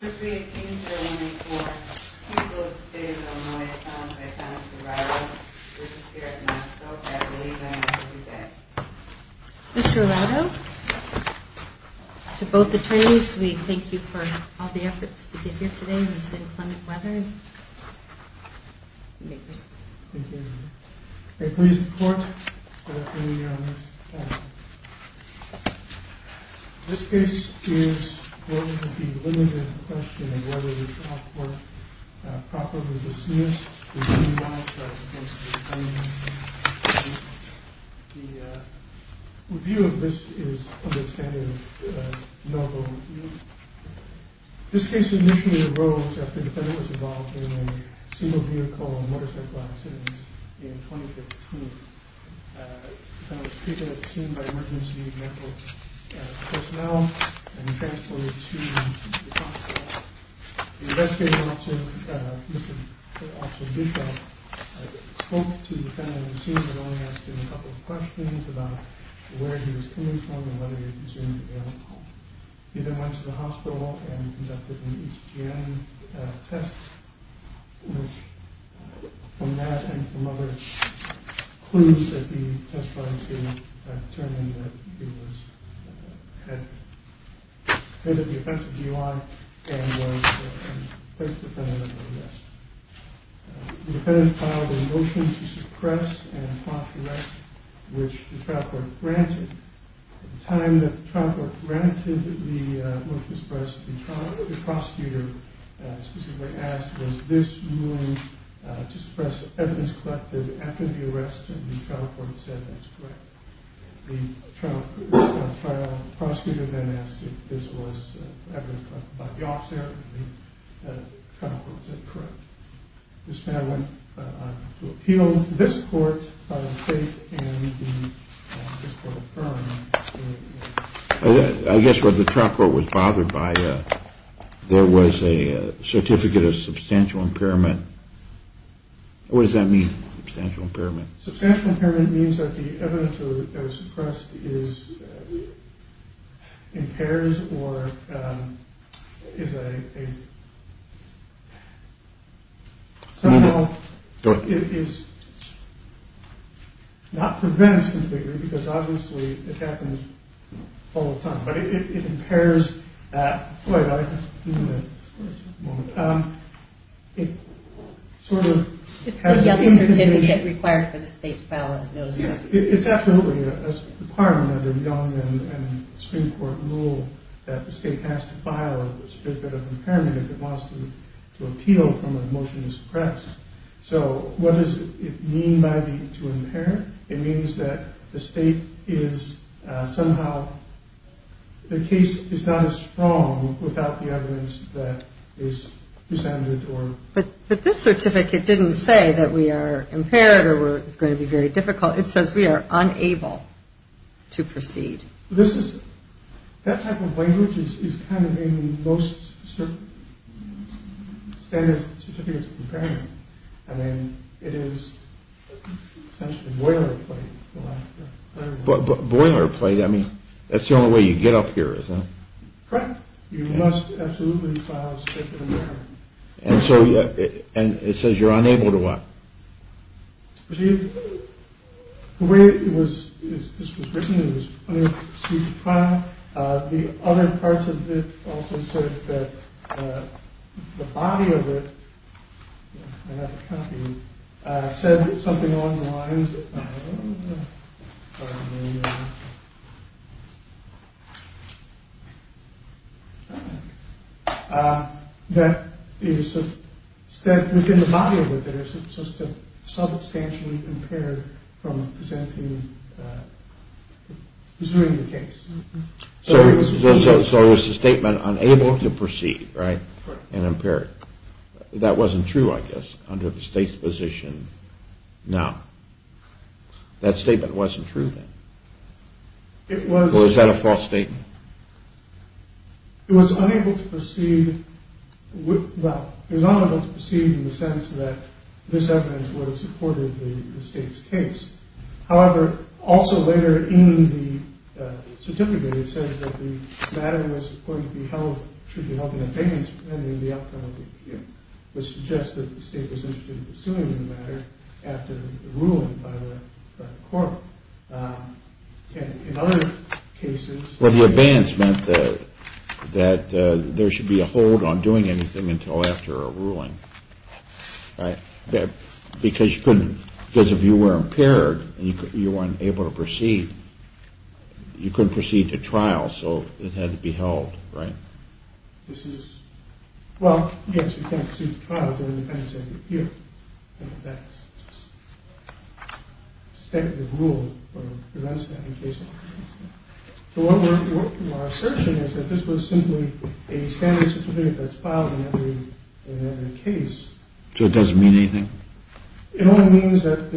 Mr. Arrado, to both attorneys, we thank you for all the efforts to get here today in the same climatic weather. Thank you. May it please the court that I bring you your honor's testimony. This case is going to be limited in question in whether the trial court properly dismissed the defendant's charges against the defendant. The review of this is of the standard of noble review. This case initially arose after the defendant was involved in a single vehicle motorcycle accident in 2015. The defendant was treated as seen by emergency medical personnel and transported to the hospital. The investigation officer, Mr. Bishop, spoke to the defendant and seemed to have only asked him a couple of questions about where he was coming from and whether he was presumed ill. He then went to the hospital and conducted an HGM test, which from that and from other clues that he testified to, determined that he had committed the offensive DUI and was a place defendant under arrest. The defendant filed a motion to suppress and prompt arrest, which the trial court granted. At the time that the trial court granted the motion to suppress, the prosecutor specifically asked was this ruling to suppress evidence collected after the arrest and the trial court said that's correct. The trial prosecutor then asked if this was evidence collected by the officer and the trial court said correct. This man went on to appeal to this court and this court affirmed. I guess what the trial court was bothered by, there was a certificate of substantial impairment. What does that mean, substantial impairment? Substantial impairment means that the evidence that was suppressed is, impairs or is a, somehow it is, not prevents, because obviously it happens all the time. But it impairs, wait a moment, it sort of, it's absolutely a requirement in Young and Supreme Court rule that the state has to file a certificate of impairment if it wants to appeal from a motion to suppress. So what does it mean by the, to impair? It means that the state is somehow, the case is not as strong without the evidence that is presented or. But this certificate didn't say that we are impaired or it's going to be very difficult, it says we are unable to proceed. This is, that type of language is kind of in most standard certificates of impairment. I mean it is essentially boilerplate. Boilerplate, I mean that's the only way you get up here, isn't it? Correct. You must absolutely file a certificate of impairment. And so, and it says you're unable to what? The way it was, this was written, it was unable to proceed to file, the other parts of it also said that the body of it, I have a copy, said something along the lines of, that is, that within the body of it is substantially impaired from presenting, pursuing the case. So it was a statement unable to proceed, right? Correct. That wasn't true, I guess, under the state's position. Now, that statement wasn't true then? It was. Or is that a false statement? It was unable to proceed, well, it was unable to proceed in the sense that this evidence would have supported the state's case. However, also later in the certificate, it says that the matter was supposed to be held, should be held in abeyance pending the outcome of the appeal, which suggests that the state was interested in pursuing the matter after the ruling by the court. And in other cases... Well, the abeyance meant that there should be a hold on doing anything until after a ruling, right? Because if you were impaired and you weren't able to proceed, you couldn't proceed to trial, so it had to be held, right? This is, well, yes, you can't proceed to trial, but it depends on your appeal. And that's the rule that prevents that in cases like this. So our assertion is that this was simply a standard certificate that's filed in every case. So it doesn't mean anything? It only means that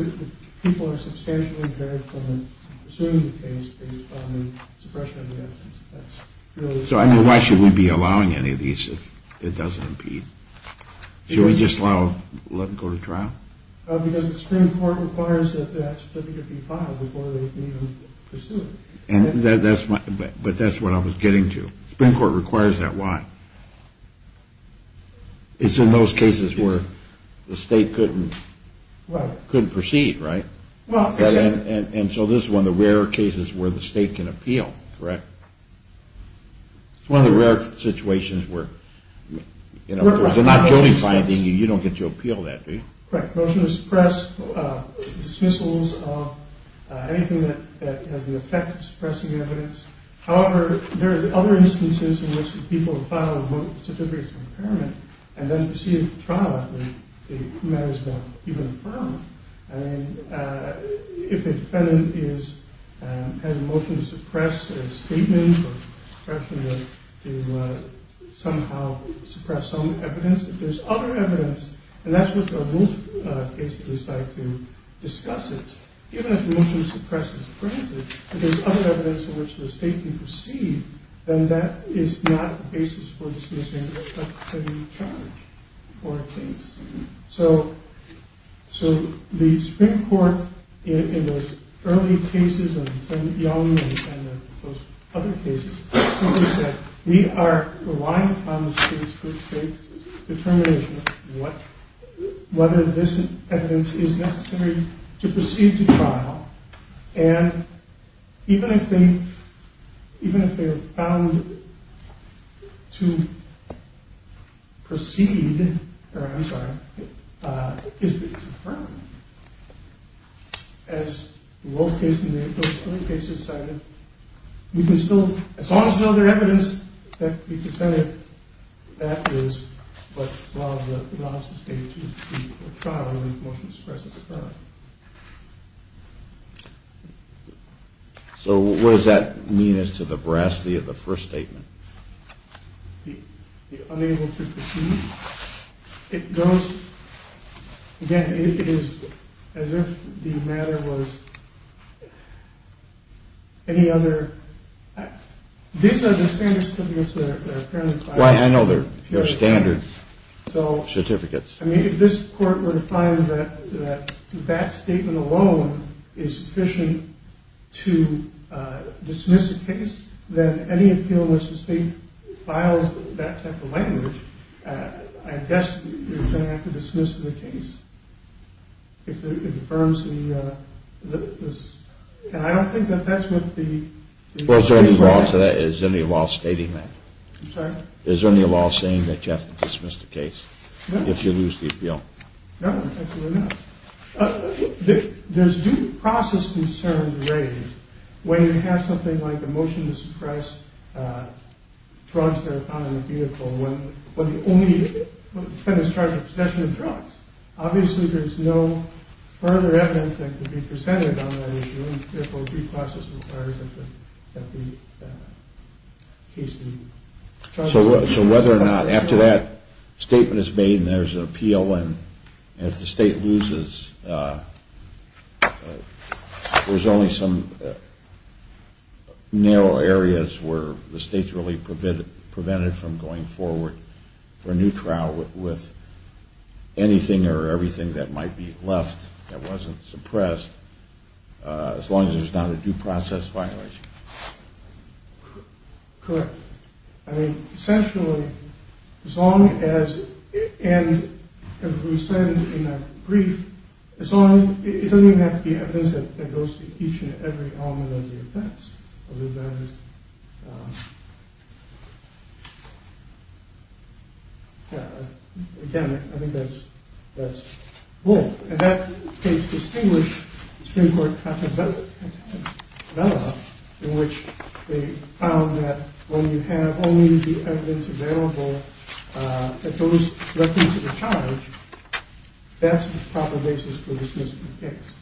people are substantially impaired from pursuing the case based upon the suppression of the evidence. So I mean, why should we be allowing any of these if it doesn't impede? Should we just let them go to trial? Because the Supreme Court requires that that certificate be filed before they can even pursue it. But that's what I was getting to. The Supreme Court requires that. Why? It's in those cases where the state couldn't proceed, right? And so this is one of the rare cases where the state can appeal, correct? It's one of the rare situations where, you know, if there's a not guilty finding, you don't get to appeal that, do you? Correct. Motion to suppress dismissals of anything that has the effect of suppressing evidence. However, there are other instances in which people file a certificate of impairment and then proceed to trial. They may as well even affirm it. I mean, if a defendant has a motion to suppress a statement or suppression to somehow suppress some evidence, if there's other evidence, and that's what the rule case is like to discuss it, even if a motion to suppress is granted, if there's other evidence in which the state can proceed, then that is not a basis for dismissal. That's to be charged for a case. So the Supreme Court, in those early cases of Sen. Young and those other cases, we are relying upon the state's determination whether this evidence is necessary to proceed to trial. And even if they are found to proceed, or I'm sorry, to affirm, as the rule case in the early cases cited, we can still, as long as there's other evidence, we can say that is what the law of the state chooses to be for trial rather than a motion to suppress at the trial. So what does that mean as to the veracity of the first statement? The unable to proceed. It goes, again, it is as if the matter was any other. These are the standard certificates that are apparently filed. Right, I know they're standard certificates. I mean, if this Court were to find that that statement alone is sufficient to dismiss a case, then any appeal in which the state files that type of language, I guess you're going to have to dismiss the case. If it affirms the, and I don't think that that's what the... Well, is there any law to that? Is there any law stating that? I'm sorry? Is there any law saying that you have to dismiss the case? No. If you lose the appeal. No, absolutely not. There's due process concerns raised when you have something like a motion to suppress drugs that are found in a vehicle when the only defendant is charged with possession of drugs. Obviously, there's no further evidence that could be presented on that issue, and therefore due process requires that the case be... So whether or not, after that statement is made and there's an appeal and if the state loses, there's only some narrow areas where the state's really prevented from going forward for a new trial with anything or everything that might be left that wasn't suppressed, as long as there's not a due process violation. Correct. I mean, essentially, as long as, and as we said in that brief, as long as, it doesn't even have to be evidence that goes to each and every element of the offense, other than, again, I think that's bold. In that case, distinguished Supreme Court, in which they found that when you have only the evidence available that goes directly to the charge, that's the proper basis for dismissing the case.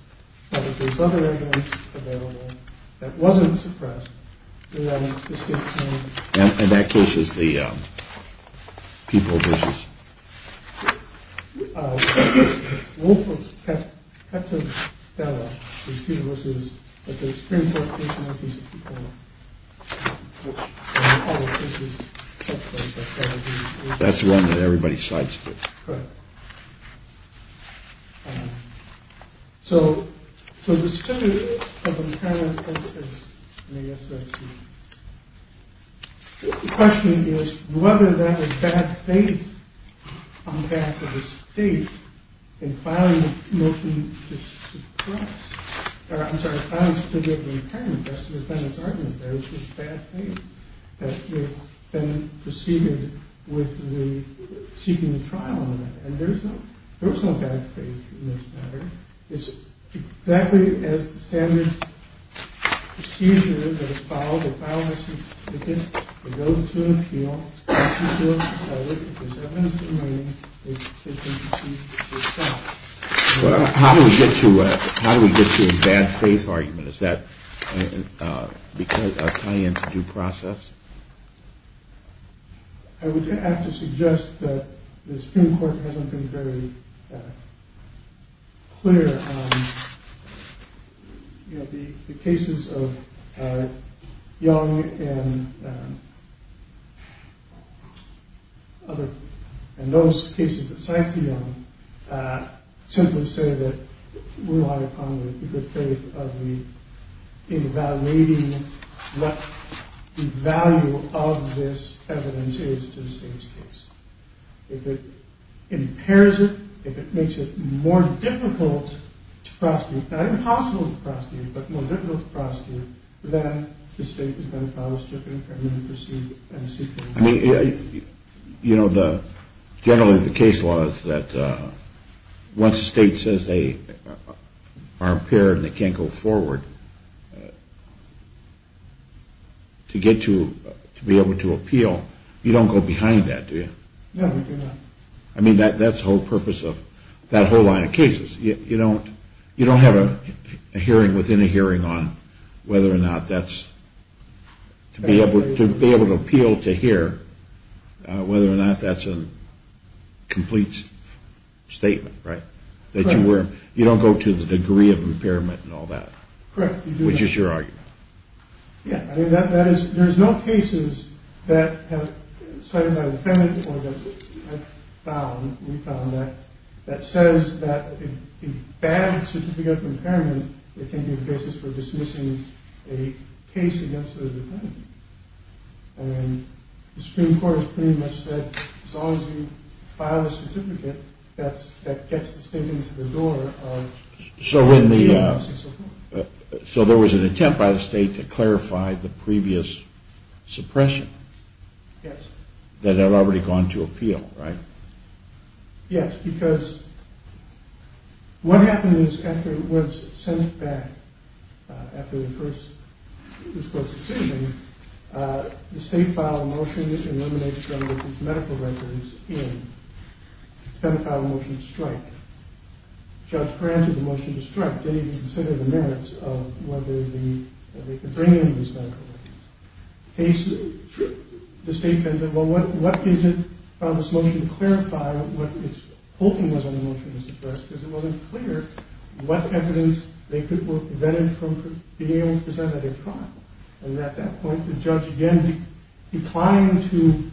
But if there's other evidence available that wasn't suppressed, then the state can... In that case, is the people... That's the one that everybody sides with. So the question is whether that is bad faith on behalf of the state in filing a motion to suppress... There's this bad faith that you've been preceded with seeking a trial, and there's no bad faith in this matter. It's exactly as the standard procedure that is filed, that goes through an appeal, and if there's evidence remaining, it can be dismissed. Well, how do we get to a bad faith argument? Does that tie into due process? I would have to suggest that the Supreme Court hasn't been very clear on the cases of Young and other... The cases that cite the Young simply say that we rely upon the good faith of the... In evaluating what the value of this evidence is to the state's case. If it impairs it, if it makes it more difficult to prosecute... Not impossible to prosecute, but more difficult to prosecute, then the state is going to file a stricter impediment to seek... I mean, you know, generally the case law is that once the state says they are impaired and can't go forward... To be able to appeal, you don't go behind that, do you? No, we do not. I mean, that's the whole purpose of that whole line of cases. You don't have a hearing within a hearing on whether or not that's... To be able to appeal to hear whether or not that's a complete statement, right? You don't go to the degree of impairment and all that. Correct. Which is your argument. Yeah, I mean that is... There's no cases that have cited that impediment or that we found that says that a bad certificate of impairment can be the basis for dismissing a case against a defendant. And the Supreme Court has pretty much said as long as you file a certificate, that gets the state into the door of... So when the... So there was an attempt by the state to clarify the previous suppression. Yes. That had already gone to appeal, right? Yes, because what happens after it was sent back after the first... The state filed a motion that eliminates the medical records in... Judge granted the motion to strike. They didn't even consider the merits of whether they could bring in these medical records. The state said, well, what is it on this motion to clarify what it's hoping was on the motion to suppress? Because it wasn't clear what evidence they could prevent it from being able to present at a trial. And at that point, the judge again declined to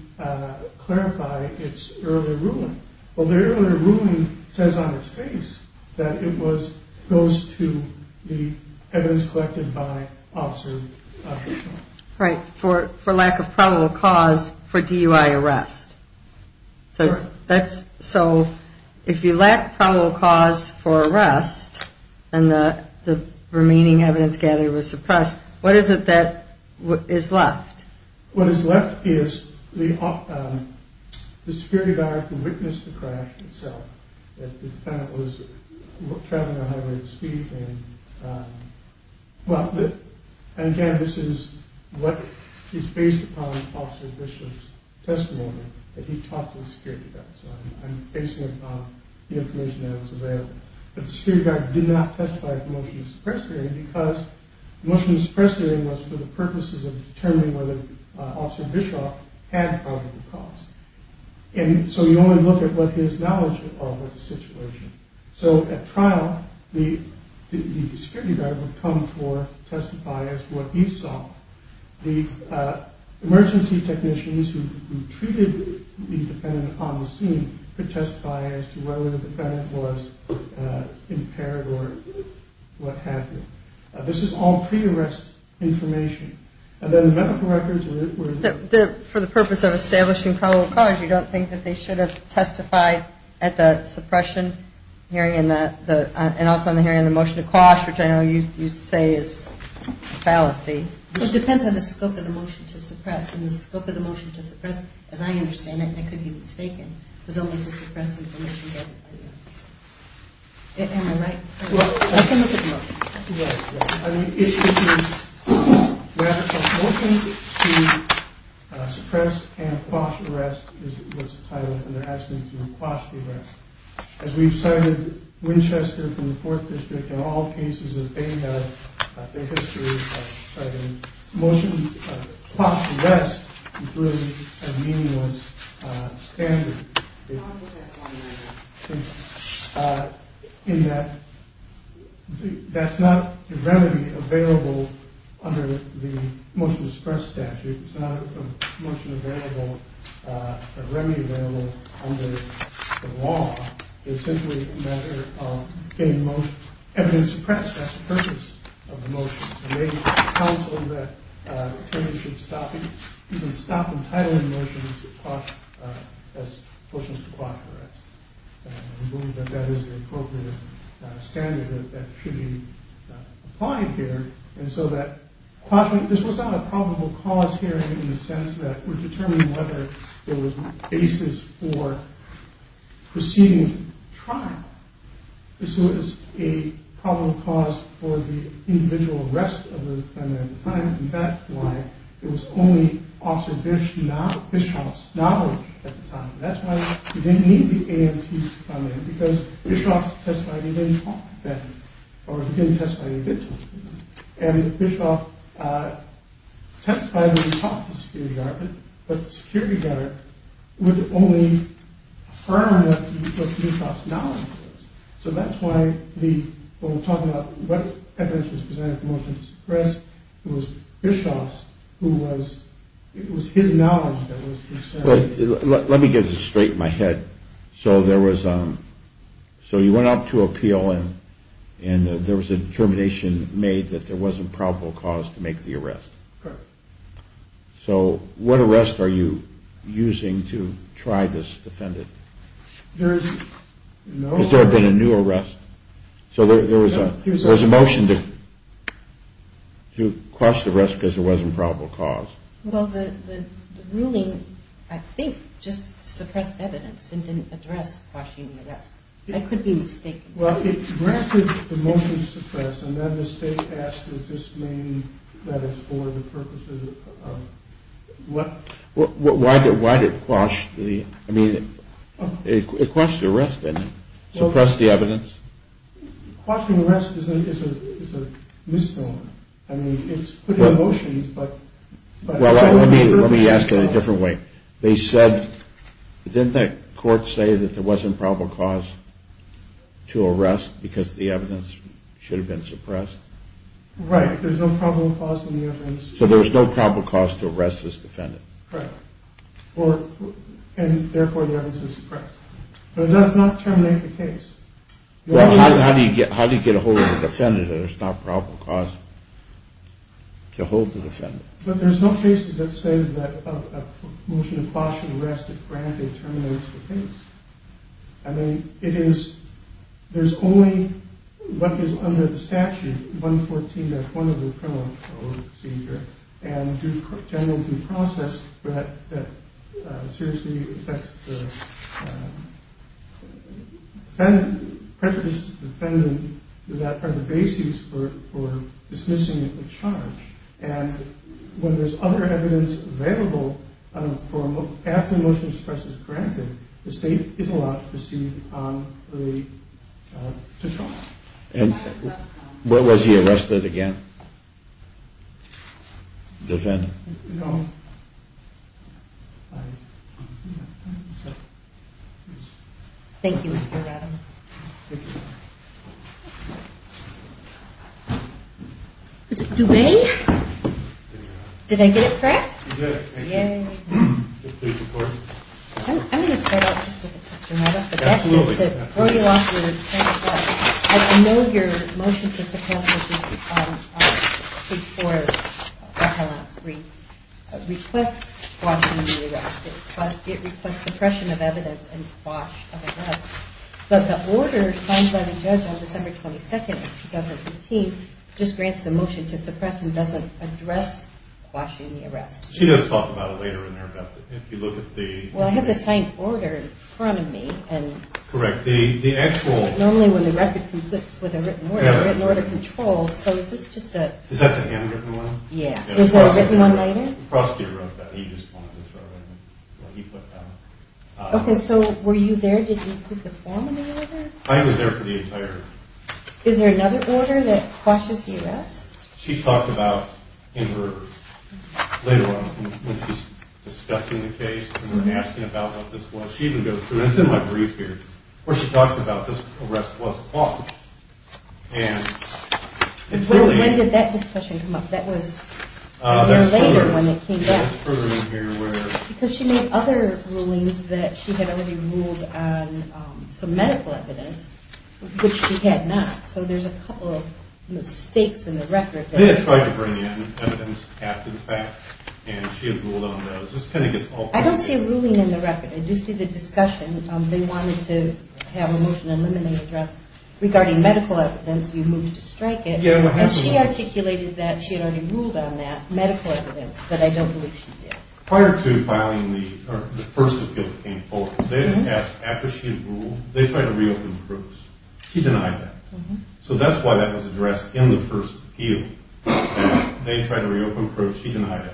clarify its earlier ruling. Well, the earlier ruling says on its face that it was... Goes to the evidence collected by officer... Right. For lack of probable cause for DUI arrest. So that's... So if you lack probable cause for arrest and the remaining evidence gathered was suppressed, what is it that is left? What is left is the security guard who witnessed the crash itself. The defendant was traveling at a high rate of speed and... Well, again, this is what is based upon officer Bishop's testimony that he talked to the security guard. So I'm basing it on the information that was available. But the security guard did not testify to the motion to suppress hearing because... Of determining whether officer Bishop had probable cause. And so you only look at what his knowledge of the situation. So at trial, the security guard would come to testify as to what he saw. The emergency technicians who treated the defendant on the scene could testify as to whether the defendant was impaired or what have you. This is all pre-arrest information. And then the medical records were... For the purpose of establishing probable cause, you don't think that they should have testified at the suppression hearing and also on the hearing on the motion to quash, which I know you say is a fallacy. It depends on the scope of the motion to suppress. And the scope of the motion to suppress, as I understand it, and I could be mistaken, was only to suppress information gathered by the officer. Am I right? Well, I can look at the motion. I mean, it is a motion to suppress and quash arrest, is what's the title. And they're asking to quash the arrest. As we've cited Winchester from the Fourth District in all cases that they have, their history of citing motions to quash the arrest, including a meaningless standard in that that's not a remedy available under the motion to suppress statute. It's not a motion available, a remedy available under the law. It's simply a matter of getting most evidence suppressed. That's the purpose of the motion. And they counseled that attorneys should stop even stop entitling motions to quash as motions to quash the arrest. And we believe that that is the appropriate standard that should be applied here. And so that this was not a probable cause hearing in the sense that we're determining whether there was basis for proceeding trial. This was a probable cause for the individual rest of the time. In fact, why it was only officer Bishop's knowledge at the time. That's why we didn't need the AMT because Bishop testified he didn't talk then or he didn't testify he did talk. And Bishop testified he didn't talk to the security guard, but the security guard would only affirm what Bishop's knowledge was. So that's why when we're talking about what evidence was presented for motions to suppress, it was Bishop's, it was his knowledge that was concerned. Let me get this straight in my head. So there was, so you went out to appeal and there was a determination made that there wasn't probable cause to make the arrest. So what arrest are you using to try this defendant? Has there been a new arrest? So there was a motion to quash the arrest because there wasn't probable cause. Well, the ruling, I think, just suppressed evidence and didn't address quashing the arrest. I could be mistaken. Well, it granted the motion to suppress and then the state asked, is this meaning that it's for the purposes of what? Why did it quash the, I mean, it quashed the arrest and suppressed the evidence? Quashing the arrest is a misnomer. Well, let me ask it a different way. They said, didn't the court say that there wasn't probable cause to arrest because the evidence should have been suppressed? Right, there's no probable cause in the evidence. So there was no probable cause to arrest this defendant. Right, and therefore the evidence is suppressed. It does not terminate the case. Well, how do you get a hold of the defendant if there's not probable cause to hold the defendant? But there's no cases that say that a motion to quash an arrest if granted terminates the case. I mean, it is, there's only what is under the statute, 114.1 of the criminal procedure, and generally due process that seriously affects the defendant, prejudice to the defendant, that are the basis for dismissing the charge. And when there's other evidence available after a motion to suppress is granted, the state is allowed to proceed to trial. And where was he arrested again? The defendant? No. Thank you, Mr. Adams. Thank you. Mr. Dubé? Did I get it correct? You did it. Yay. Thank you. I'm going to start out just with a question. Absolutely. Before you ask your question, I know your motion to suppress was before the highlights. It requests quashing the arrest, but it requests suppression of evidence and quash of arrest. But the order signed by the judge on December 22nd, 2015, just grants the motion to suppress and doesn't address quashing the arrest. She does talk about it later in there about if you look at the- Well, I have the signed order in front of me. Correct. The actual- Normally when the record conflicts with a written order, written order controls. So is this just a- Is that the handwritten one? Yeah. Is there a written one either? The prosecutor wrote that. He just wanted to throw it in before he put that on. Okay. So were you there? Did you include the form in the order? I was there for the entire- Is there another order that quashes the arrest? She talked about in her later on when she's discussing the case and we're asking about what this was. She even goes through- and it's in my brief here- where she talks about this arrest was quashed. And it's really- When did that discussion come up? That was a year later when it came back. Because she made other rulings that she had already ruled on some medical evidence, which she had not. So there's a couple of mistakes in the record. They had tried to bring in evidence after the fact, and she had ruled on those. I don't see a ruling in the record. I do see the discussion. They wanted to have a motion eliminating address regarding medical evidence. You moved to strike it. And she articulated that she had already ruled on that medical evidence, but I don't believe she did. Prior to filing the first appeal that came forward, they didn't ask after she had ruled. They tried to reopen proofs. She denied that. So that's why that was addressed in the first appeal. They tried to reopen proofs. She denied it.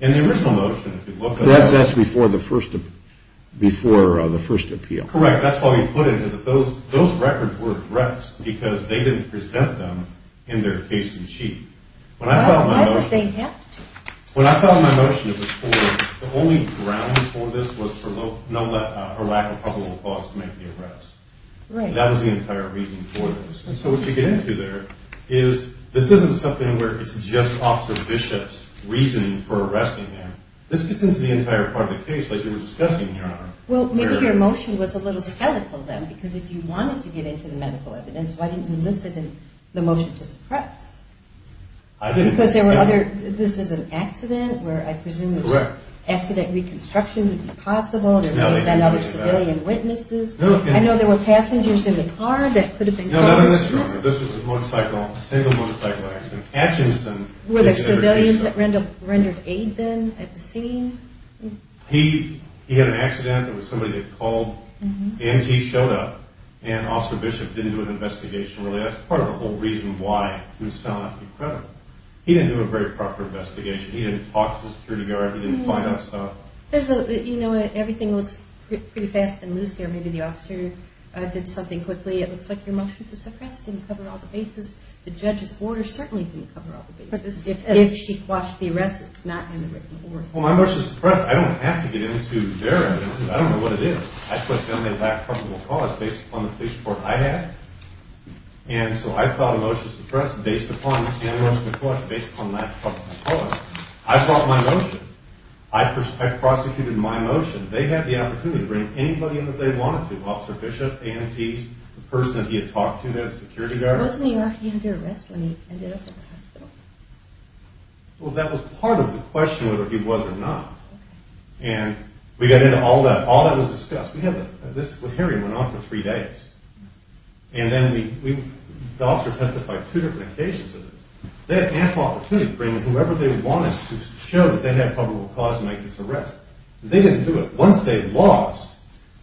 And the original motion, if you look at it- That's before the first appeal. Correct. That's why we put it. Those records were addressed because they didn't present them in their case and sheet. Why would they have to? When I filed my motion, it was for- The only ground for this was for lack of probable cause to make the arrest. Right. That was the entire reason for this. And so what you get into there is this isn't something where it's just Officer Bishop's reasoning for arresting him. This gets into the entire part of the case, like you were discussing here, Honor. Well, maybe your motion was a little skeletal then, because if you wanted to get into the medical evidence, why didn't you list it in the motion to suppress? I didn't- Because there were other- This is an accident where I presume- Correct. Accident reconstruction would be possible. There may have been other civilian witnesses. I know there were passengers in the car that could have been caused- No, not in this room. This was a single motorcycle accident. At Jensen- Were there civilians that rendered aid then at the scene? He had an accident. There was somebody that called. The EMT showed up, and Officer Bishop didn't do an investigation really. That's part of the whole reason why he was found not to be credible. He didn't do a very proper investigation. He didn't talk to the security guard. He didn't find out stuff. You know, everything looks pretty fast and loose here. Maybe the officer did something quickly. It looks like your motion to suppress didn't cover all the bases. The judge's order certainly didn't cover all the bases. If she quashed the arrest, it's not in the written order. Well, my motion to suppress- I don't have to get into their evidence. I don't know what it is. I took only that probable cause based upon the police report I had. And so I filed a motion to suppress based upon the motion to quash, based upon that probable cause. I brought my motion. I prosecuted my motion. They had the opportunity to bring anybody in that they wanted to- Officer Bishop, EMTs, the person that he had talked to, the security guard. Wasn't he already under arrest when he ended up in the hospital? Well, that was part of the question whether he was or not. And we got into all that. All that was discussed. This hearing went on for three days. And then the officer testified two different occasions of this. They had ample opportunity to bring in whoever they wanted to show that they had probable cause to make this arrest. They didn't do it. Once they lost,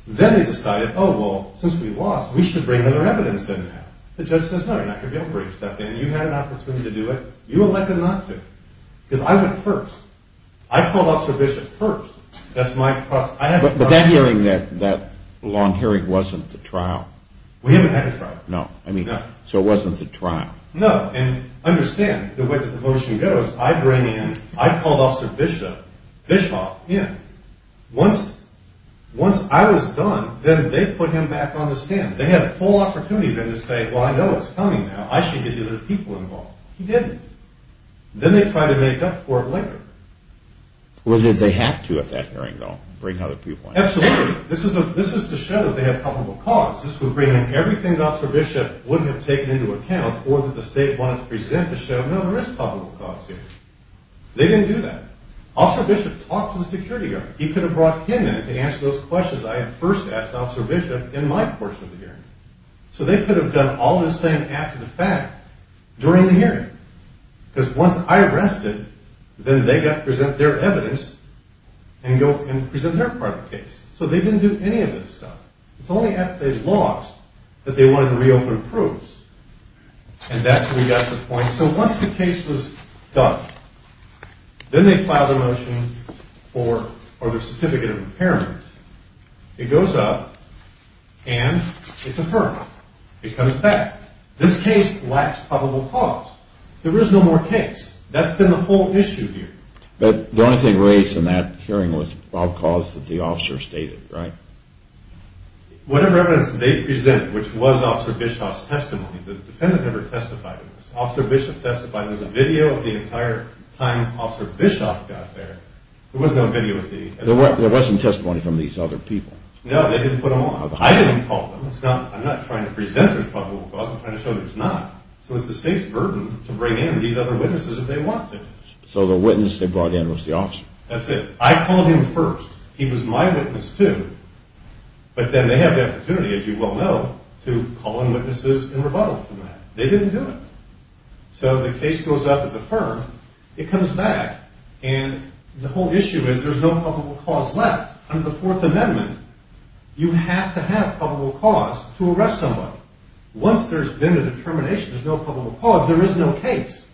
then they decided, oh, well, since we lost, we should bring other evidence in now. The judge says, no, you're not going to be able to bring stuff in. You had an opportunity to do it. You elected not to. Because I went first. I called Officer Bishop first. That's my- But that hearing, that long hearing, wasn't the trial? We haven't had a trial. No. So it wasn't the trial. No. And understand, the way that the motion goes, I bring in- I called Officer Bishop, Bischoff, in. Once I was done, then they put him back on the stand. They had a full opportunity then to say, well, I know it's coming now. I should get the other people involved. He didn't. Then they tried to make up for it later. Was it they have to at that hearing, though, bring other people in? Absolutely. This is to show they have probable cause. This would bring in everything that Officer Bishop would have taken into account or that the state wanted to present to show, no, there is probable cause here. They didn't do that. Officer Bishop talked to the security guard. He could have brought him in to answer those questions I had first asked Officer Bishop in my portion of the hearing. So they could have done all the same after the fact during the hearing. Because once I arrested, then they got to present their evidence and present their part of the case. So they didn't do any of this stuff. It's only after they lost that they wanted to reopen proofs. And that's when we got to the point. So once the case was done, then they filed a motion for the certificate of impairment. It goes up, and it's affirmed. It comes back. This case lacks probable cause. There is no more case. That's been the whole issue here. But the only thing raised in that hearing was probable cause that the officer stated, right? Whatever evidence they presented, which was Officer Bishop's testimony, the defendant never testified to this. Officer Bishop testified. There's a video of the entire time Officer Bishop got there. There wasn't testimony from these other people. No, they didn't put them on. I didn't call them. I'm not trying to present there's probable cause. I'm trying to show there's not. So it's the state's burden to bring in these other witnesses if they want to. So the witness they brought in was the officer. That's it. I called him first. He was my witness too. But then they have the opportunity, as you well know, to call in witnesses and rebuttal from that. They didn't do it. So the case goes up, it's affirmed. It comes back. And the whole issue is there's no probable cause left. Under the Fourth Amendment, you have to have probable cause to arrest somebody. Once there's been a determination there's no probable cause, there is no case.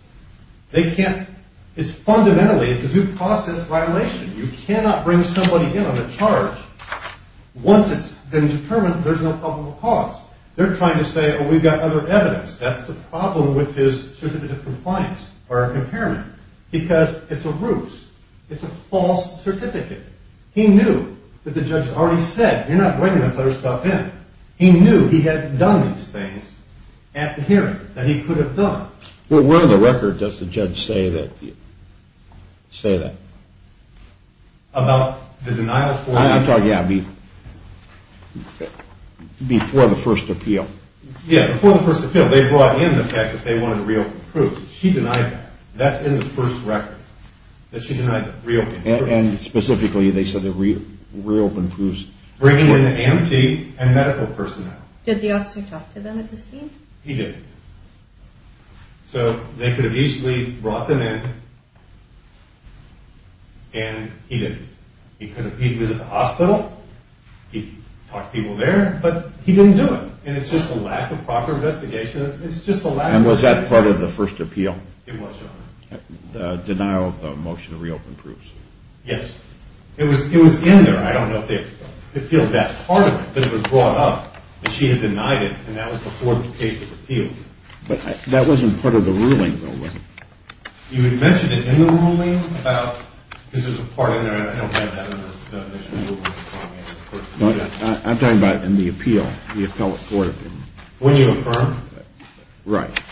It's fundamentally a due process violation. You cannot bring somebody in on a charge once it's been determined there's no probable cause. They're trying to say, oh, we've got other evidence. That's the problem with his certificate of compliance or impairment because it's a ruse. It's a false certificate. He knew that the judge already said, you're not bringing this other stuff in. He knew he had done these things at the hearing, that he could have done. Where on the record does the judge say that? About the denial? I'm talking, yeah, before the first appeal. Yeah, before the first appeal. They brought in the fact that they wanted a real proof. She denied that. That's in the first record, that she denied the real proof. And specifically they said the real proofs. Bringing in the EMT and medical personnel. Did the officer talk to them at this meeting? He didn't. So they could have easily brought them in, and he didn't. He could have visited the hospital. He talked to people there, but he didn't do it. And it's just a lack of proper investigation. And was that part of the first appeal? It was, Your Honor. Denial of the motion to reopen proofs? Yes. It was in there. I don't know if they appealed that part of it, because it was brought up. But she had denied it, and that was before the case was appealed. But that wasn't part of the ruling, though, was it? You had mentioned it in the ruling about, because there's a part in there, and I don't have that in the initial ruling. I'm talking about in the appeal, the appellate court opinion. When you affirmed? Right.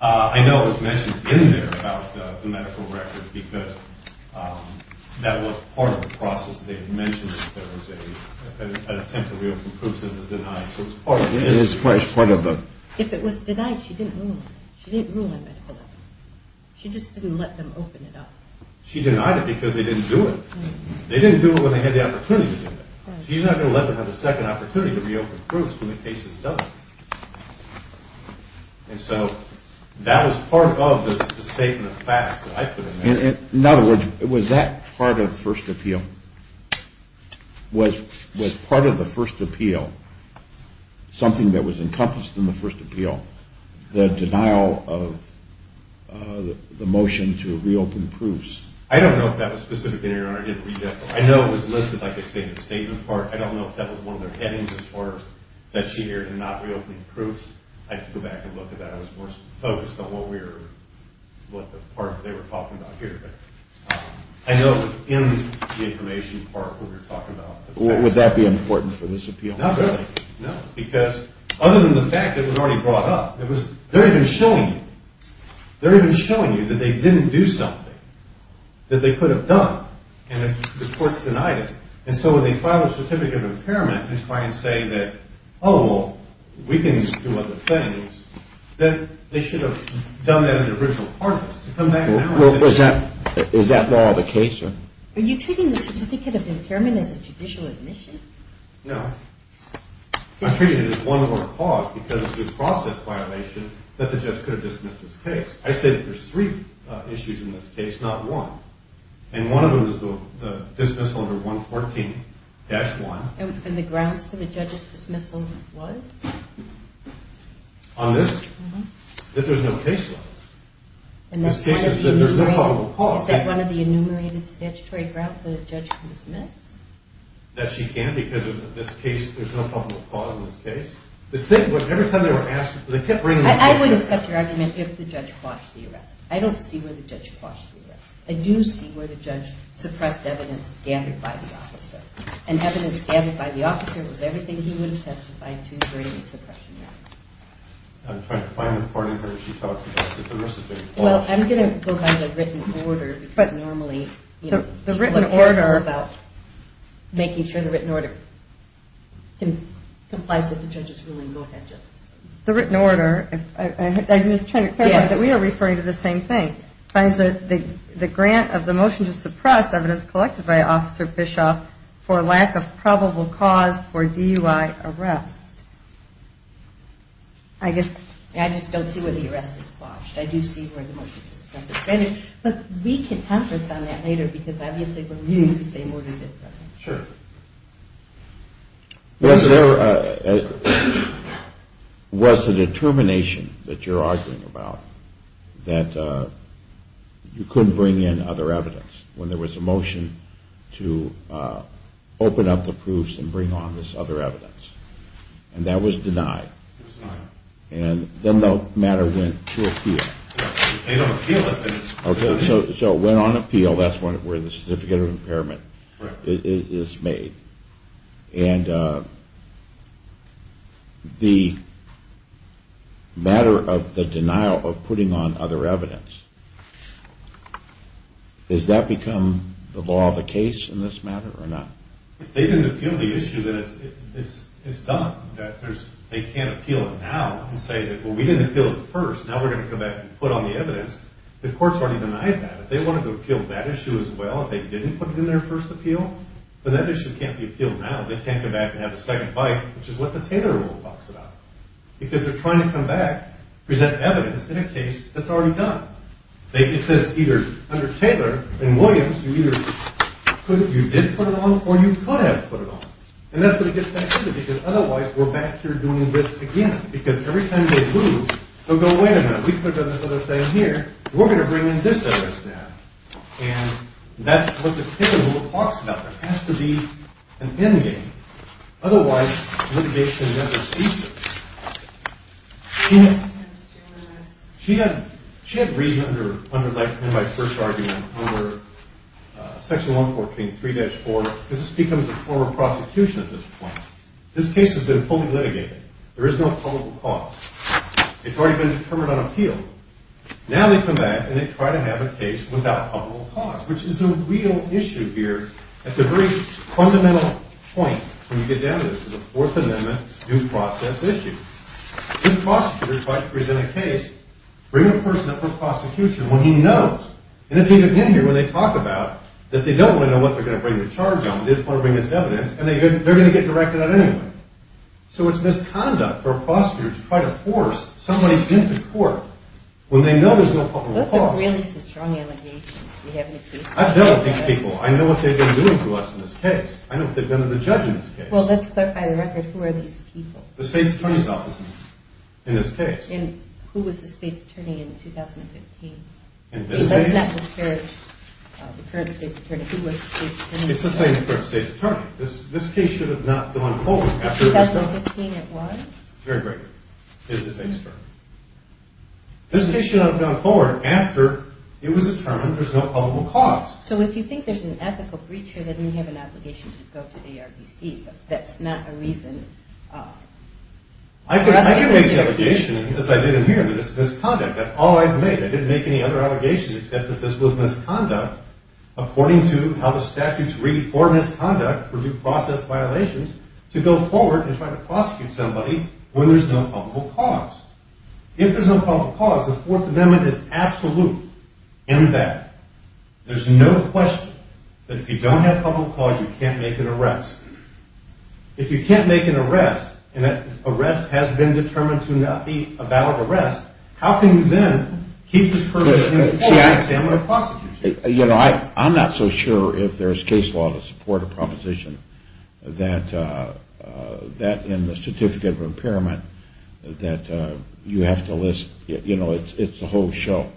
I know it was mentioned in there about the medical record, because that was part of the process. They had mentioned that there was an attempt to reopen proofs that was denied. So it was part of it. If it was denied, she didn't rule on it. She didn't rule on medical evidence. She just didn't let them open it up. She denied it because they didn't do it. They didn't do it when they had the opportunity to do it. She's not going to let them have a second opportunity to reopen proofs when the case is done. And so that was part of the statement of facts that I put in there. In other words, was that part of the first appeal? Was part of the first appeal, something that was encompassed in the first appeal, the denial of the motion to reopen proofs? I don't know if that was specific to your Honor. I didn't read that part. I know it was listed like a stated statement part. I don't know if that was one of their headings, as far as that she heard in not reopening proofs. I had to go back and look at that. I was more focused on what the part they were talking about here. I know it was in the information part when we were talking about the facts. Would that be important for this appeal? Not really, no, because other than the fact that it was already brought up, they're even showing you that they didn't do something that they could have done and the court's denied it. So when they file a certificate of impairment and try and say that, oh, well, we can do other things, then they should have done that as an original parties. Is that more of the case? Are you treating the certificate of impairment as a judicial admission? No. I'm treating it as one of our cause because it's a process violation that the judge could have dismissed this case. I said there's three issues in this case, not one. And one of them is the dismissal under 114-1. And the grounds for the judge's dismissal was? On this? Mm-hmm. That there's no case law. This case is that there's no probable cause. Is that one of the enumerated statutory grounds that a judge can dismiss? That she can because of this case, there's no probable cause in this case. Every time they were asked, they kept bringing this up. I wouldn't accept your argument if the judge quashed the arrest. I don't see where the judge quashed the arrest. I do see where the judge suppressed evidence gathered by the officer. And evidence gathered by the officer was everything he would have testified to during the suppression. I'm trying to find the part of her that she talks about. Well, I'm going to go by the written order because normally, you know, people care more about making sure the written order complies with the judge's ruling more than just the written order. I'm just trying to clarify that we are referring to the same thing. The grant of the motion to suppress evidence collected by Officer Bischoff for lack of probable cause for DUI arrest. I just don't see where the arrest is quashed. I do see where the motion to suppress is granted. But we can have this on that later because obviously we're using the same order. Sure. Was there a determination that you're arguing about that you couldn't bring in other evidence when there was a motion to open up the proofs and bring on this other evidence? And that was denied. It was denied. And then the matter went to appeal. They don't appeal it. Okay. So it went on appeal. That's where the certificate of impairment is made. And the matter of the denial of putting on other evidence, has that become the law of the case in this matter or not? If they didn't appeal the issue, then it's done. They can't appeal it now and say that, well, we didn't appeal it first. Now we're going to come back and put on the evidence. The court's already denied that. If they wanted to appeal that issue as well, if they didn't put it in their first appeal, then that issue can't be appealed now. They can't come back and have a second bite, which is what the Taylor rule talks about. Because they're trying to come back, present evidence in a case that's already done. It says either under Taylor and Williams, you did put it on or you could have put it on. And that's what it gets back to because otherwise we're back here doing this again. Because every time they move, they'll go, wait a minute, we put it on this other thing here and we're going to bring in this evidence now. And that's what the Taylor rule talks about. It has to be an endgame. Otherwise litigation never ceases. She had reason under, like in my first argument, under Section 114, 3-4, because this becomes a form of prosecution at this point. This case has been fully litigated. There is no public cause. It's already been determined on appeal. Now they come back and they try to have a case without public cause, which is the real issue here at the very fundamental point when you get down to this, to the Fourth Amendment due process issue. If prosecutors try to present a case, bring a person up for prosecution when he knows, and it's even in here when they talk about that they don't want to know what they're going to bring the charge on, they just want to bring this evidence, and they're going to get directed at anyway. So it's misconduct for a prosecutor to try to force somebody into court when they know there's no public cause. Those are really some strong allegations. I've dealt with these people. I know what they've been doing to us in this case. I know what they've done to the judge in this case. Well, let's clarify the record. Who are these people? The State's Attorney's Office in this case. And who was the State's Attorney in 2015? Let's not disparage the current State's Attorney. Who was the State's Attorney? It's the same current State's Attorney. This case should have not gone forward after it was determined. In 2015 it was? Very briefly. It's the State's Attorney. This case should not have gone forward after it was determined there's no public cause. So if you think there's an ethical breach here, then you have an obligation to go to the ARDC. That's not a reason. I didn't make the allegation, as I did in here, that it's misconduct. That's all I've made. I didn't make any other allegations except that this was misconduct, according to how the statutes read, for misconduct, for due process violations, to go forward and try to prosecute somebody when there's no public cause. If there's no public cause, the Fourth Amendment is absolute in that. There's no question that if you don't have public cause, you can't make an arrest. If you can't make an arrest and that arrest has been determined to not be a valid arrest, how can you then keep this person in the Fourth Amendment of prosecution? You know, I'm not so sure if there's case law to support a proposition that in the Certificate of Impairment that you have to list, you know, it's a whole show.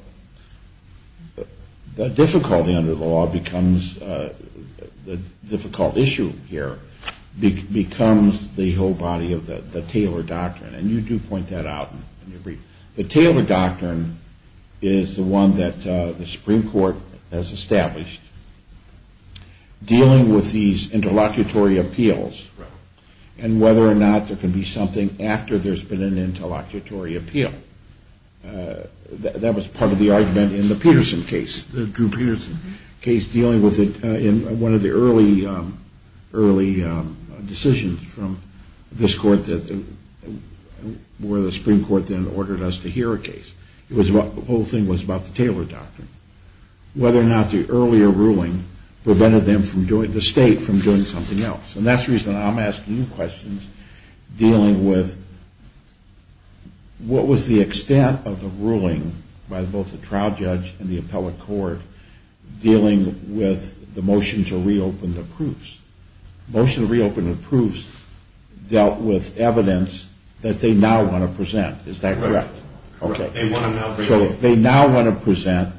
The difficulty under the law becomes the difficult issue here becomes the whole body of the Taylor Doctrine, and you do point that out in your brief. The Taylor Doctrine is the one that the Supreme Court has established, dealing with these interlocutory appeals and whether or not there can be something after there's been an interlocutory appeal. That was part of the argument in the Peterson case, the Drew Peterson case, in one of the early decisions from this court where the Supreme Court then ordered us to hear a case. The whole thing was about the Taylor Doctrine, whether or not the earlier ruling prevented the state from doing something else. And that's the reason I'm asking you questions dealing with what was the extent of the ruling by both the trial judge and the appellate court dealing with the motion to reopen the proofs. The motion to reopen the proofs dealt with evidence that they now want to present. Is that correct? Correct. So they now want to present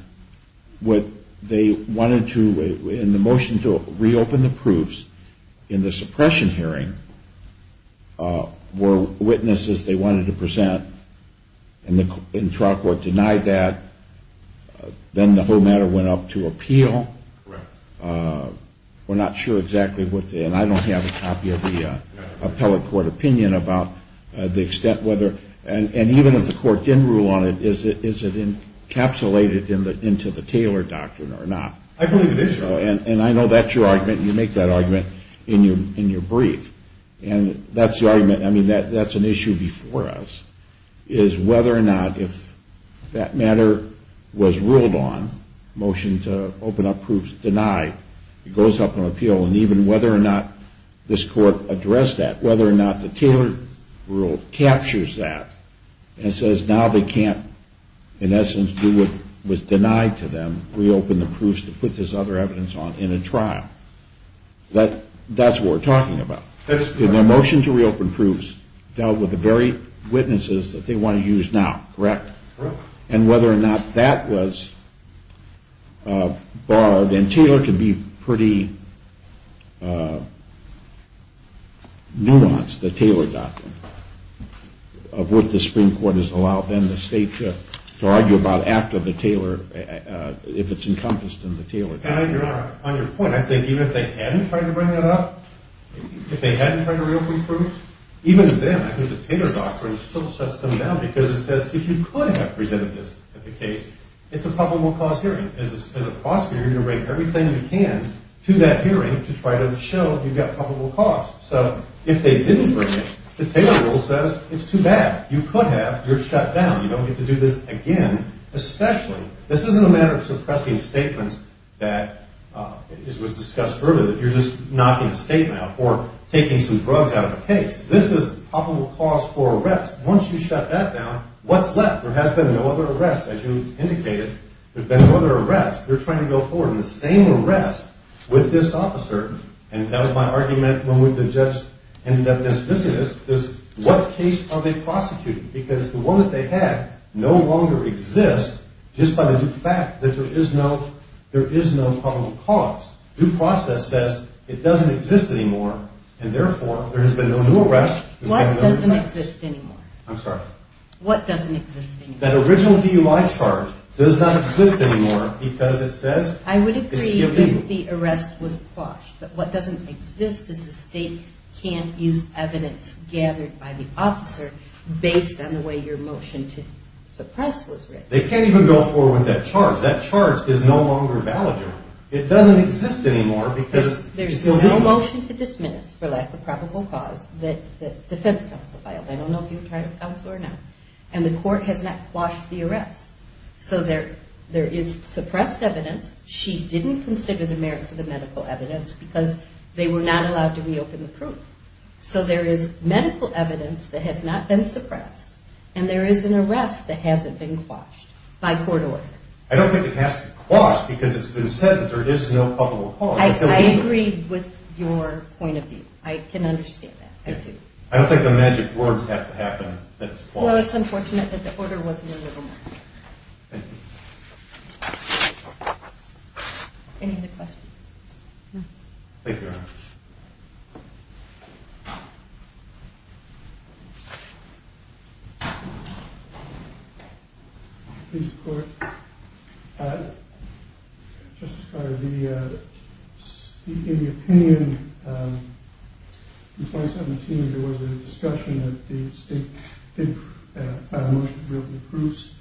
what they wanted to in the motion to reopen the proofs in the suppression hearing were witnesses they wanted to present and the trial court denied that. Then the whole matter went up to appeal. Correct. We're not sure exactly what the, and I don't have a copy of the appellate court opinion about the extent whether, and even if the court did rule on it, is it encapsulated into the Taylor Doctrine or not? I believe it is. And I know that's your argument. You make that argument in your brief. And that's the argument. I mean, that's an issue before us is whether or not if that matter was ruled on, motion to open up proofs denied, it goes up on appeal, and even whether or not this court addressed that, whether or not the Taylor rule captures that and says now they can't, in essence, do what was denied to them, reopen the proofs to put this other evidence on in a trial. That's what we're talking about. Their motion to reopen proofs dealt with the very witnesses that they want to use now, correct? Correct. And whether or not that was barred, and Taylor can be pretty nuanced, the Taylor Doctrine, of what the Supreme Court has allowed then the state to argue about after the Taylor, if it's encompassed in the Taylor Doctrine. On your point, I think even if they hadn't tried to bring that up, if they hadn't tried to reopen proofs, even then I think the Taylor Doctrine still shuts them down because it says if you could have presented this at the case, it's a probable cause hearing. As a prosecutor, you're going to bring everything you can to that hearing to try to show you've got probable cause. So if they didn't bring it, the Taylor rule says it's too bad. You could have. You're shut down. You don't get to do this again, especially. This isn't a matter of suppressing statements that was discussed earlier, that you're just knocking a statement out or taking some drugs out of a case. This is probable cause for arrest. Once you shut that down, what's left? There has been no other arrest, as you indicated. There's been no other arrest. They're trying to go forward with the same arrest with this officer, and that was my argument when we ended up this business, what case are they prosecuting? Because the one that they had no longer exists just by the fact that there is no probable cause. Due process says it doesn't exist anymore, and therefore there has been no new arrest. What doesn't exist anymore? I'm sorry. What doesn't exist anymore? That original DUI charge does not exist anymore because it says it's given. I would agree if the arrest was quashed, but what doesn't exist is the state can't use evidence gathered by the officer based on the way your motion to suppress was written. They can't even go forward with that charge. That charge is no longer valid anymore. It doesn't exist anymore because it's been handed. There's no motion to dismiss for lack of probable cause that defense counsel filed. I don't know if you were trying to counsel her or not, and the court has not quashed the arrest. So there is suppressed evidence. She didn't consider the merits of the medical evidence because they were not allowed to reopen the proof. So there is medical evidence that has not been suppressed, and there is an arrest that hasn't been quashed by court order. I don't think it has to be quashed because it's been sentenced or there is no probable cause. I agree with your point of view. I can understand that. I do. I don't think the magic words have to happen that it's quashed. Well, it's unfortunate that the order wasn't removed. Thank you. Any other questions? No. Thank you, Your Honor. Please support. Justice Carter, in the opinion in 2017, there was a discussion that the state did file a motion to reopen the proofs.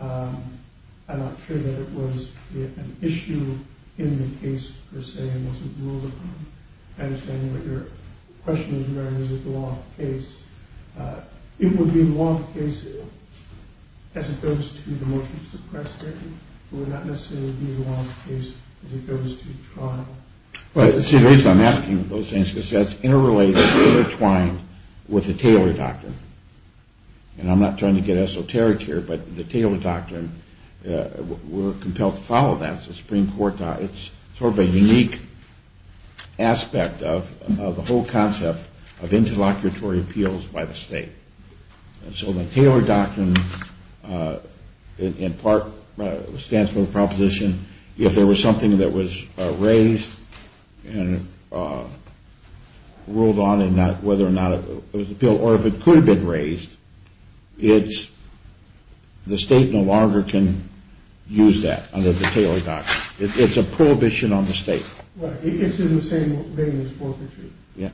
I'm not sure that it was an issue in the case, per se, and wasn't ruled upon. I understand what your question is, Your Honor. Is it the law of the case? It would be the law of the case as it goes to the motion to suppress it. It would not necessarily be the law of the case as it goes to trial. See, the reason I'm asking those things is because that's interrelated, intertwined with the Taylor doctrine. And I'm not trying to get esoteric here, but the Taylor doctrine, we're compelled to follow that. It's a Supreme Court doctrine. It's sort of a unique aspect of the whole concept of interlocutory appeals by the state. And so the Taylor doctrine, in part, stands for the proposition, if there was something that was raised and ruled on whether or not it was an appeal, or if it could have been raised, the state no longer can use that under the Taylor doctrine. It's a prohibition on the state. It's in the same vein as forfeiture. Yeah.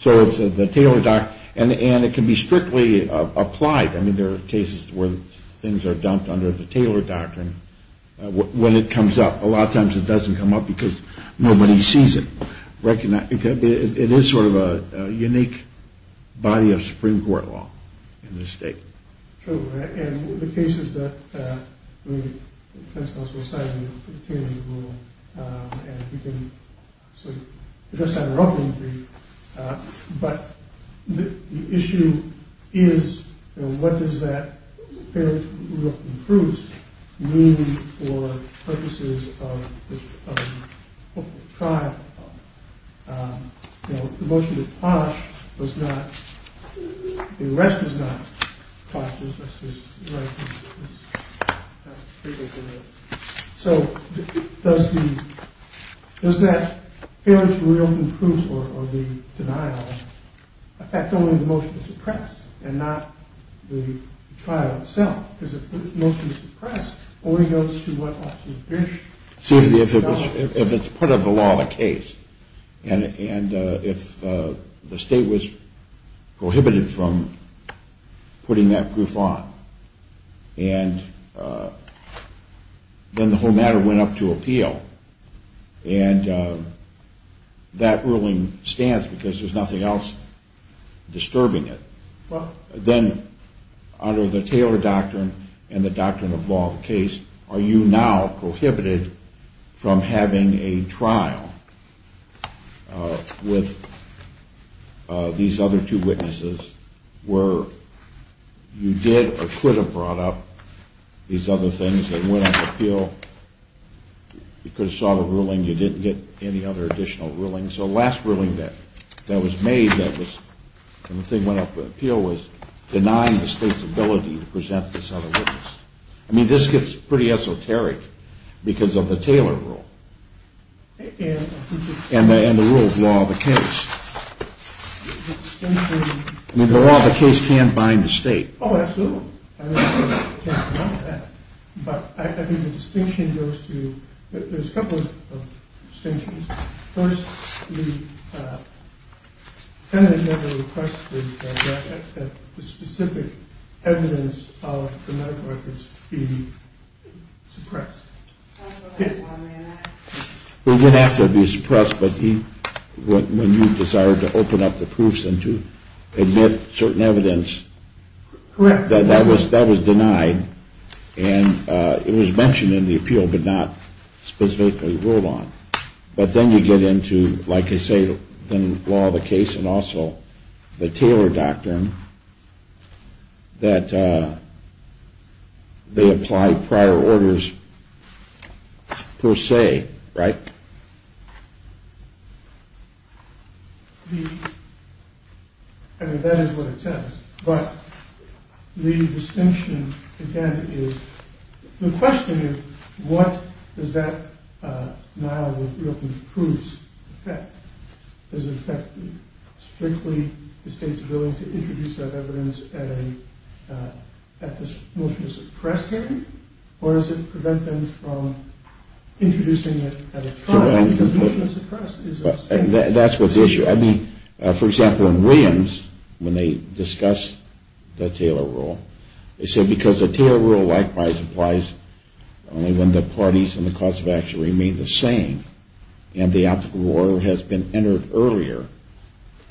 So it's the Taylor doctrine, and it can be strictly applied. I mean, there are cases where things are dumped under the Taylor doctrine when it comes up. A lot of times it doesn't come up because nobody sees it. It is sort of a unique body of Supreme Court law in this state. True. And the case is that the principal society of the Taylor rule, and we can sort of address that in our opening brief, but the issue is what does that appearance of Rudolph and Cruz mean for purposes of the tribe? You know, the motion to punish was not, the arrest was not, so does that appearance of Rudolph and Cruz or the denial affect only the motion to suppress and not the trial itself? Because if the motion is suppressed, only goes to what officer is. See, if it's part of the law of the case, and if the state was prohibited from putting that proof on, and then the whole matter went up to appeal, and that ruling stands because there's nothing else disturbing it, then under the Taylor doctrine and the doctrine of law of the case, are you now prohibited from having a trial with these other two witnesses where you did or could have brought up these other things that went up to appeal? You could have sought a ruling. You didn't get any other additional ruling. And so the last ruling that was made that the thing went up to appeal was denying the state's ability to present this other witness. I mean, this gets pretty esoteric because of the Taylor rule and the rule of law of the case. I mean, the law of the case can bind the state. Oh, absolutely. But I think the distinction goes to there's a couple of things. First, the president never requested that the specific evidence of the medical records be suppressed. We're going to have to be suppressed. But when you desire to open up the proofs and to admit certain evidence. Correct. That was denied. And it was mentioned in the appeal, but not specifically ruled on. But then you get into, like I say, the law of the case and also the Taylor doctrine that they apply prior orders per se, right? I mean, that is what it says. But the distinction, again, is the question is, what does that now with the open proofs affect? Does it affect strictly the state's ability to introduce that evidence at the motion of suppression? Or does it prevent them from introducing it at a trial? That's what the issue. I mean, for example, in Williams, when they discuss the Taylor rule, they said because the Taylor rule likewise applies only when the parties and the cause of action remain the same and the applicable order has been entered earlier.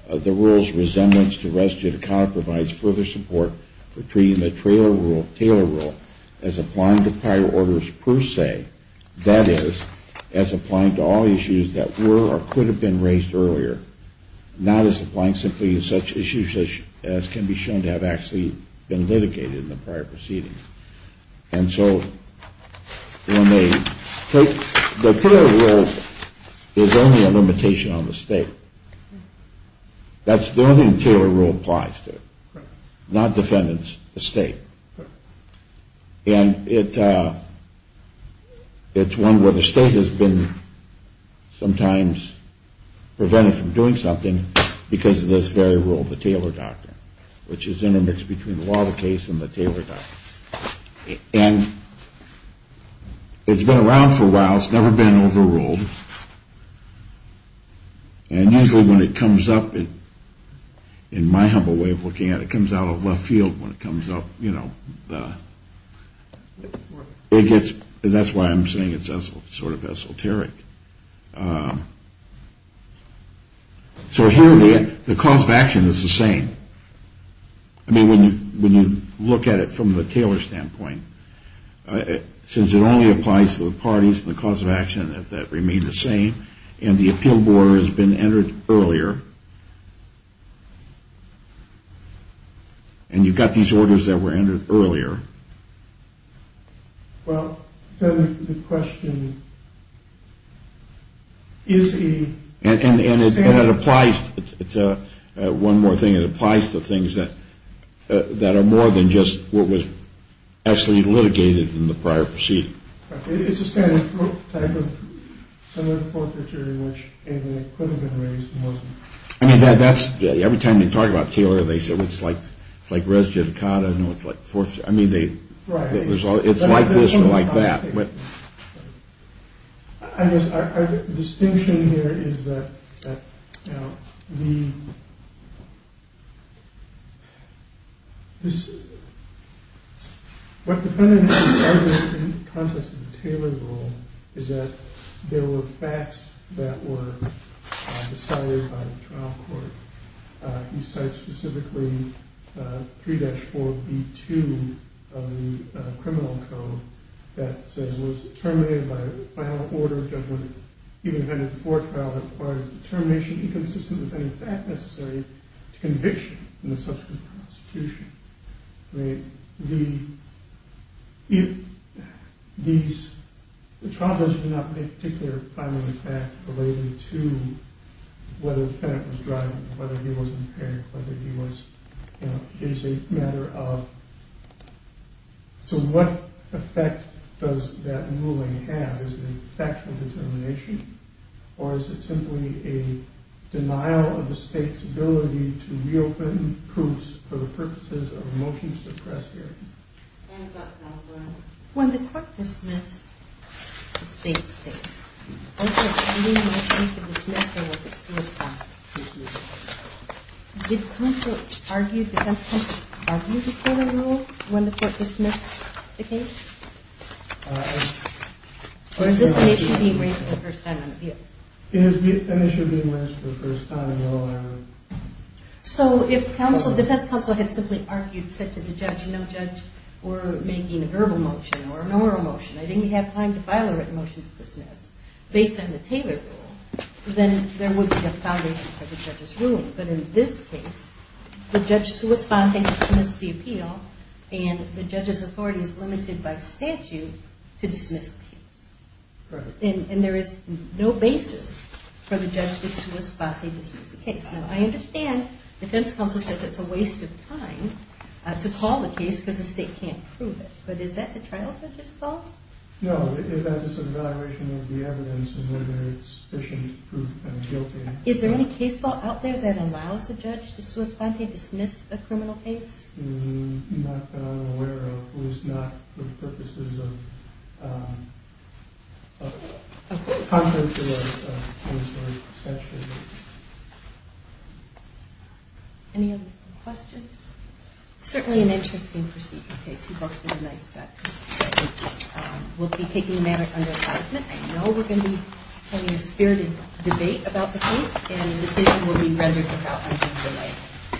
The rule's resemblance to res judicata provides further support for treating the Taylor rule as applying to prior orders per se. That is, as applying to all issues that were or could have been raised earlier, not as applying simply to such issues as can be shown to have actually been litigated in the prior proceedings. And so the Taylor rule is only a limitation on the state. That's the only thing the Taylor rule applies to, not defendants, the state. And it's one where the state has been sometimes prevented from doing something because of this very rule, the Taylor doctrine, which is intermixed between the law of the case and the Taylor doctrine. And it's been around for a while. It's never been overruled. And usually when it comes up, in my humble way of looking at it, it comes out of left field when it comes up, you know. That's why I'm saying it's sort of esoteric. So here the cause of action is the same. I mean, when you look at it from the Taylor standpoint, since it only applies to the parties and the cause of action, if that remained the same and the appeal board has been entered earlier, and you've got these orders that were entered earlier. Well, the question is. And it applies. It's one more thing. It applies to things that that are more than just what was actually litigated in the prior proceeding. It's a standard type of. I mean, that's every time they talk about Taylor. They said it's like it's like res judicata. No, it's like force. I mean, they. Right. It's like this or like that. I guess our distinction here is that the. This. What the context of the Taylor rule is that there were facts that were decided by the trial court. He said specifically three days for the two of the criminal code that was terminated by order. He invented for trial or termination, inconsistent with any fact necessary to conviction in the subsequent prosecution. I mean, the. If these charges do not make a particular final attack related to whether it was driving, whether he was impaired, whether he was. It is a matter of. So what effect does that ruling have? Is it a factual determination or is it simply a denial of the state's ability to reopen groups for the purposes of motion suppressed? When the court dismissed the state's case. Also, I mean, I think the dismissal was a suicide. Did counsel argue defense before the rule when the court dismissed the case? Or is this an issue being raised for the first time? It is an issue being raised for the first time. So if counsel defense counsel had simply argued, said to the judge, you know, judge or making a verbal motion or an oral motion, I didn't have time to file a written motion to dismiss based on the Taylor rule. Then there would be a foundation for the judge's ruling. But in this case, the judge's response dismissed the appeal and the judge's authority is limited by statute to dismiss the case. And there is no basis for the judge to dismiss the case. Now, I understand defense counsel says it's a waste of time to call the case because the state can't prove it. But is that the trial judge's fault? No, it's an evaluation of the evidence and whether it's sufficient to prove them guilty. Is there any case law out there that allows the judge to sui sponte dismiss a criminal case? Not that I'm aware of. At least not for the purposes of, contrary to a military statute. Any other questions? Certainly an interesting proceeding case. You both did a nice job. We'll be taking the matter under assessment. I know we're going to be having a spirited debate about the case. And the decision will be rendered without undue delay.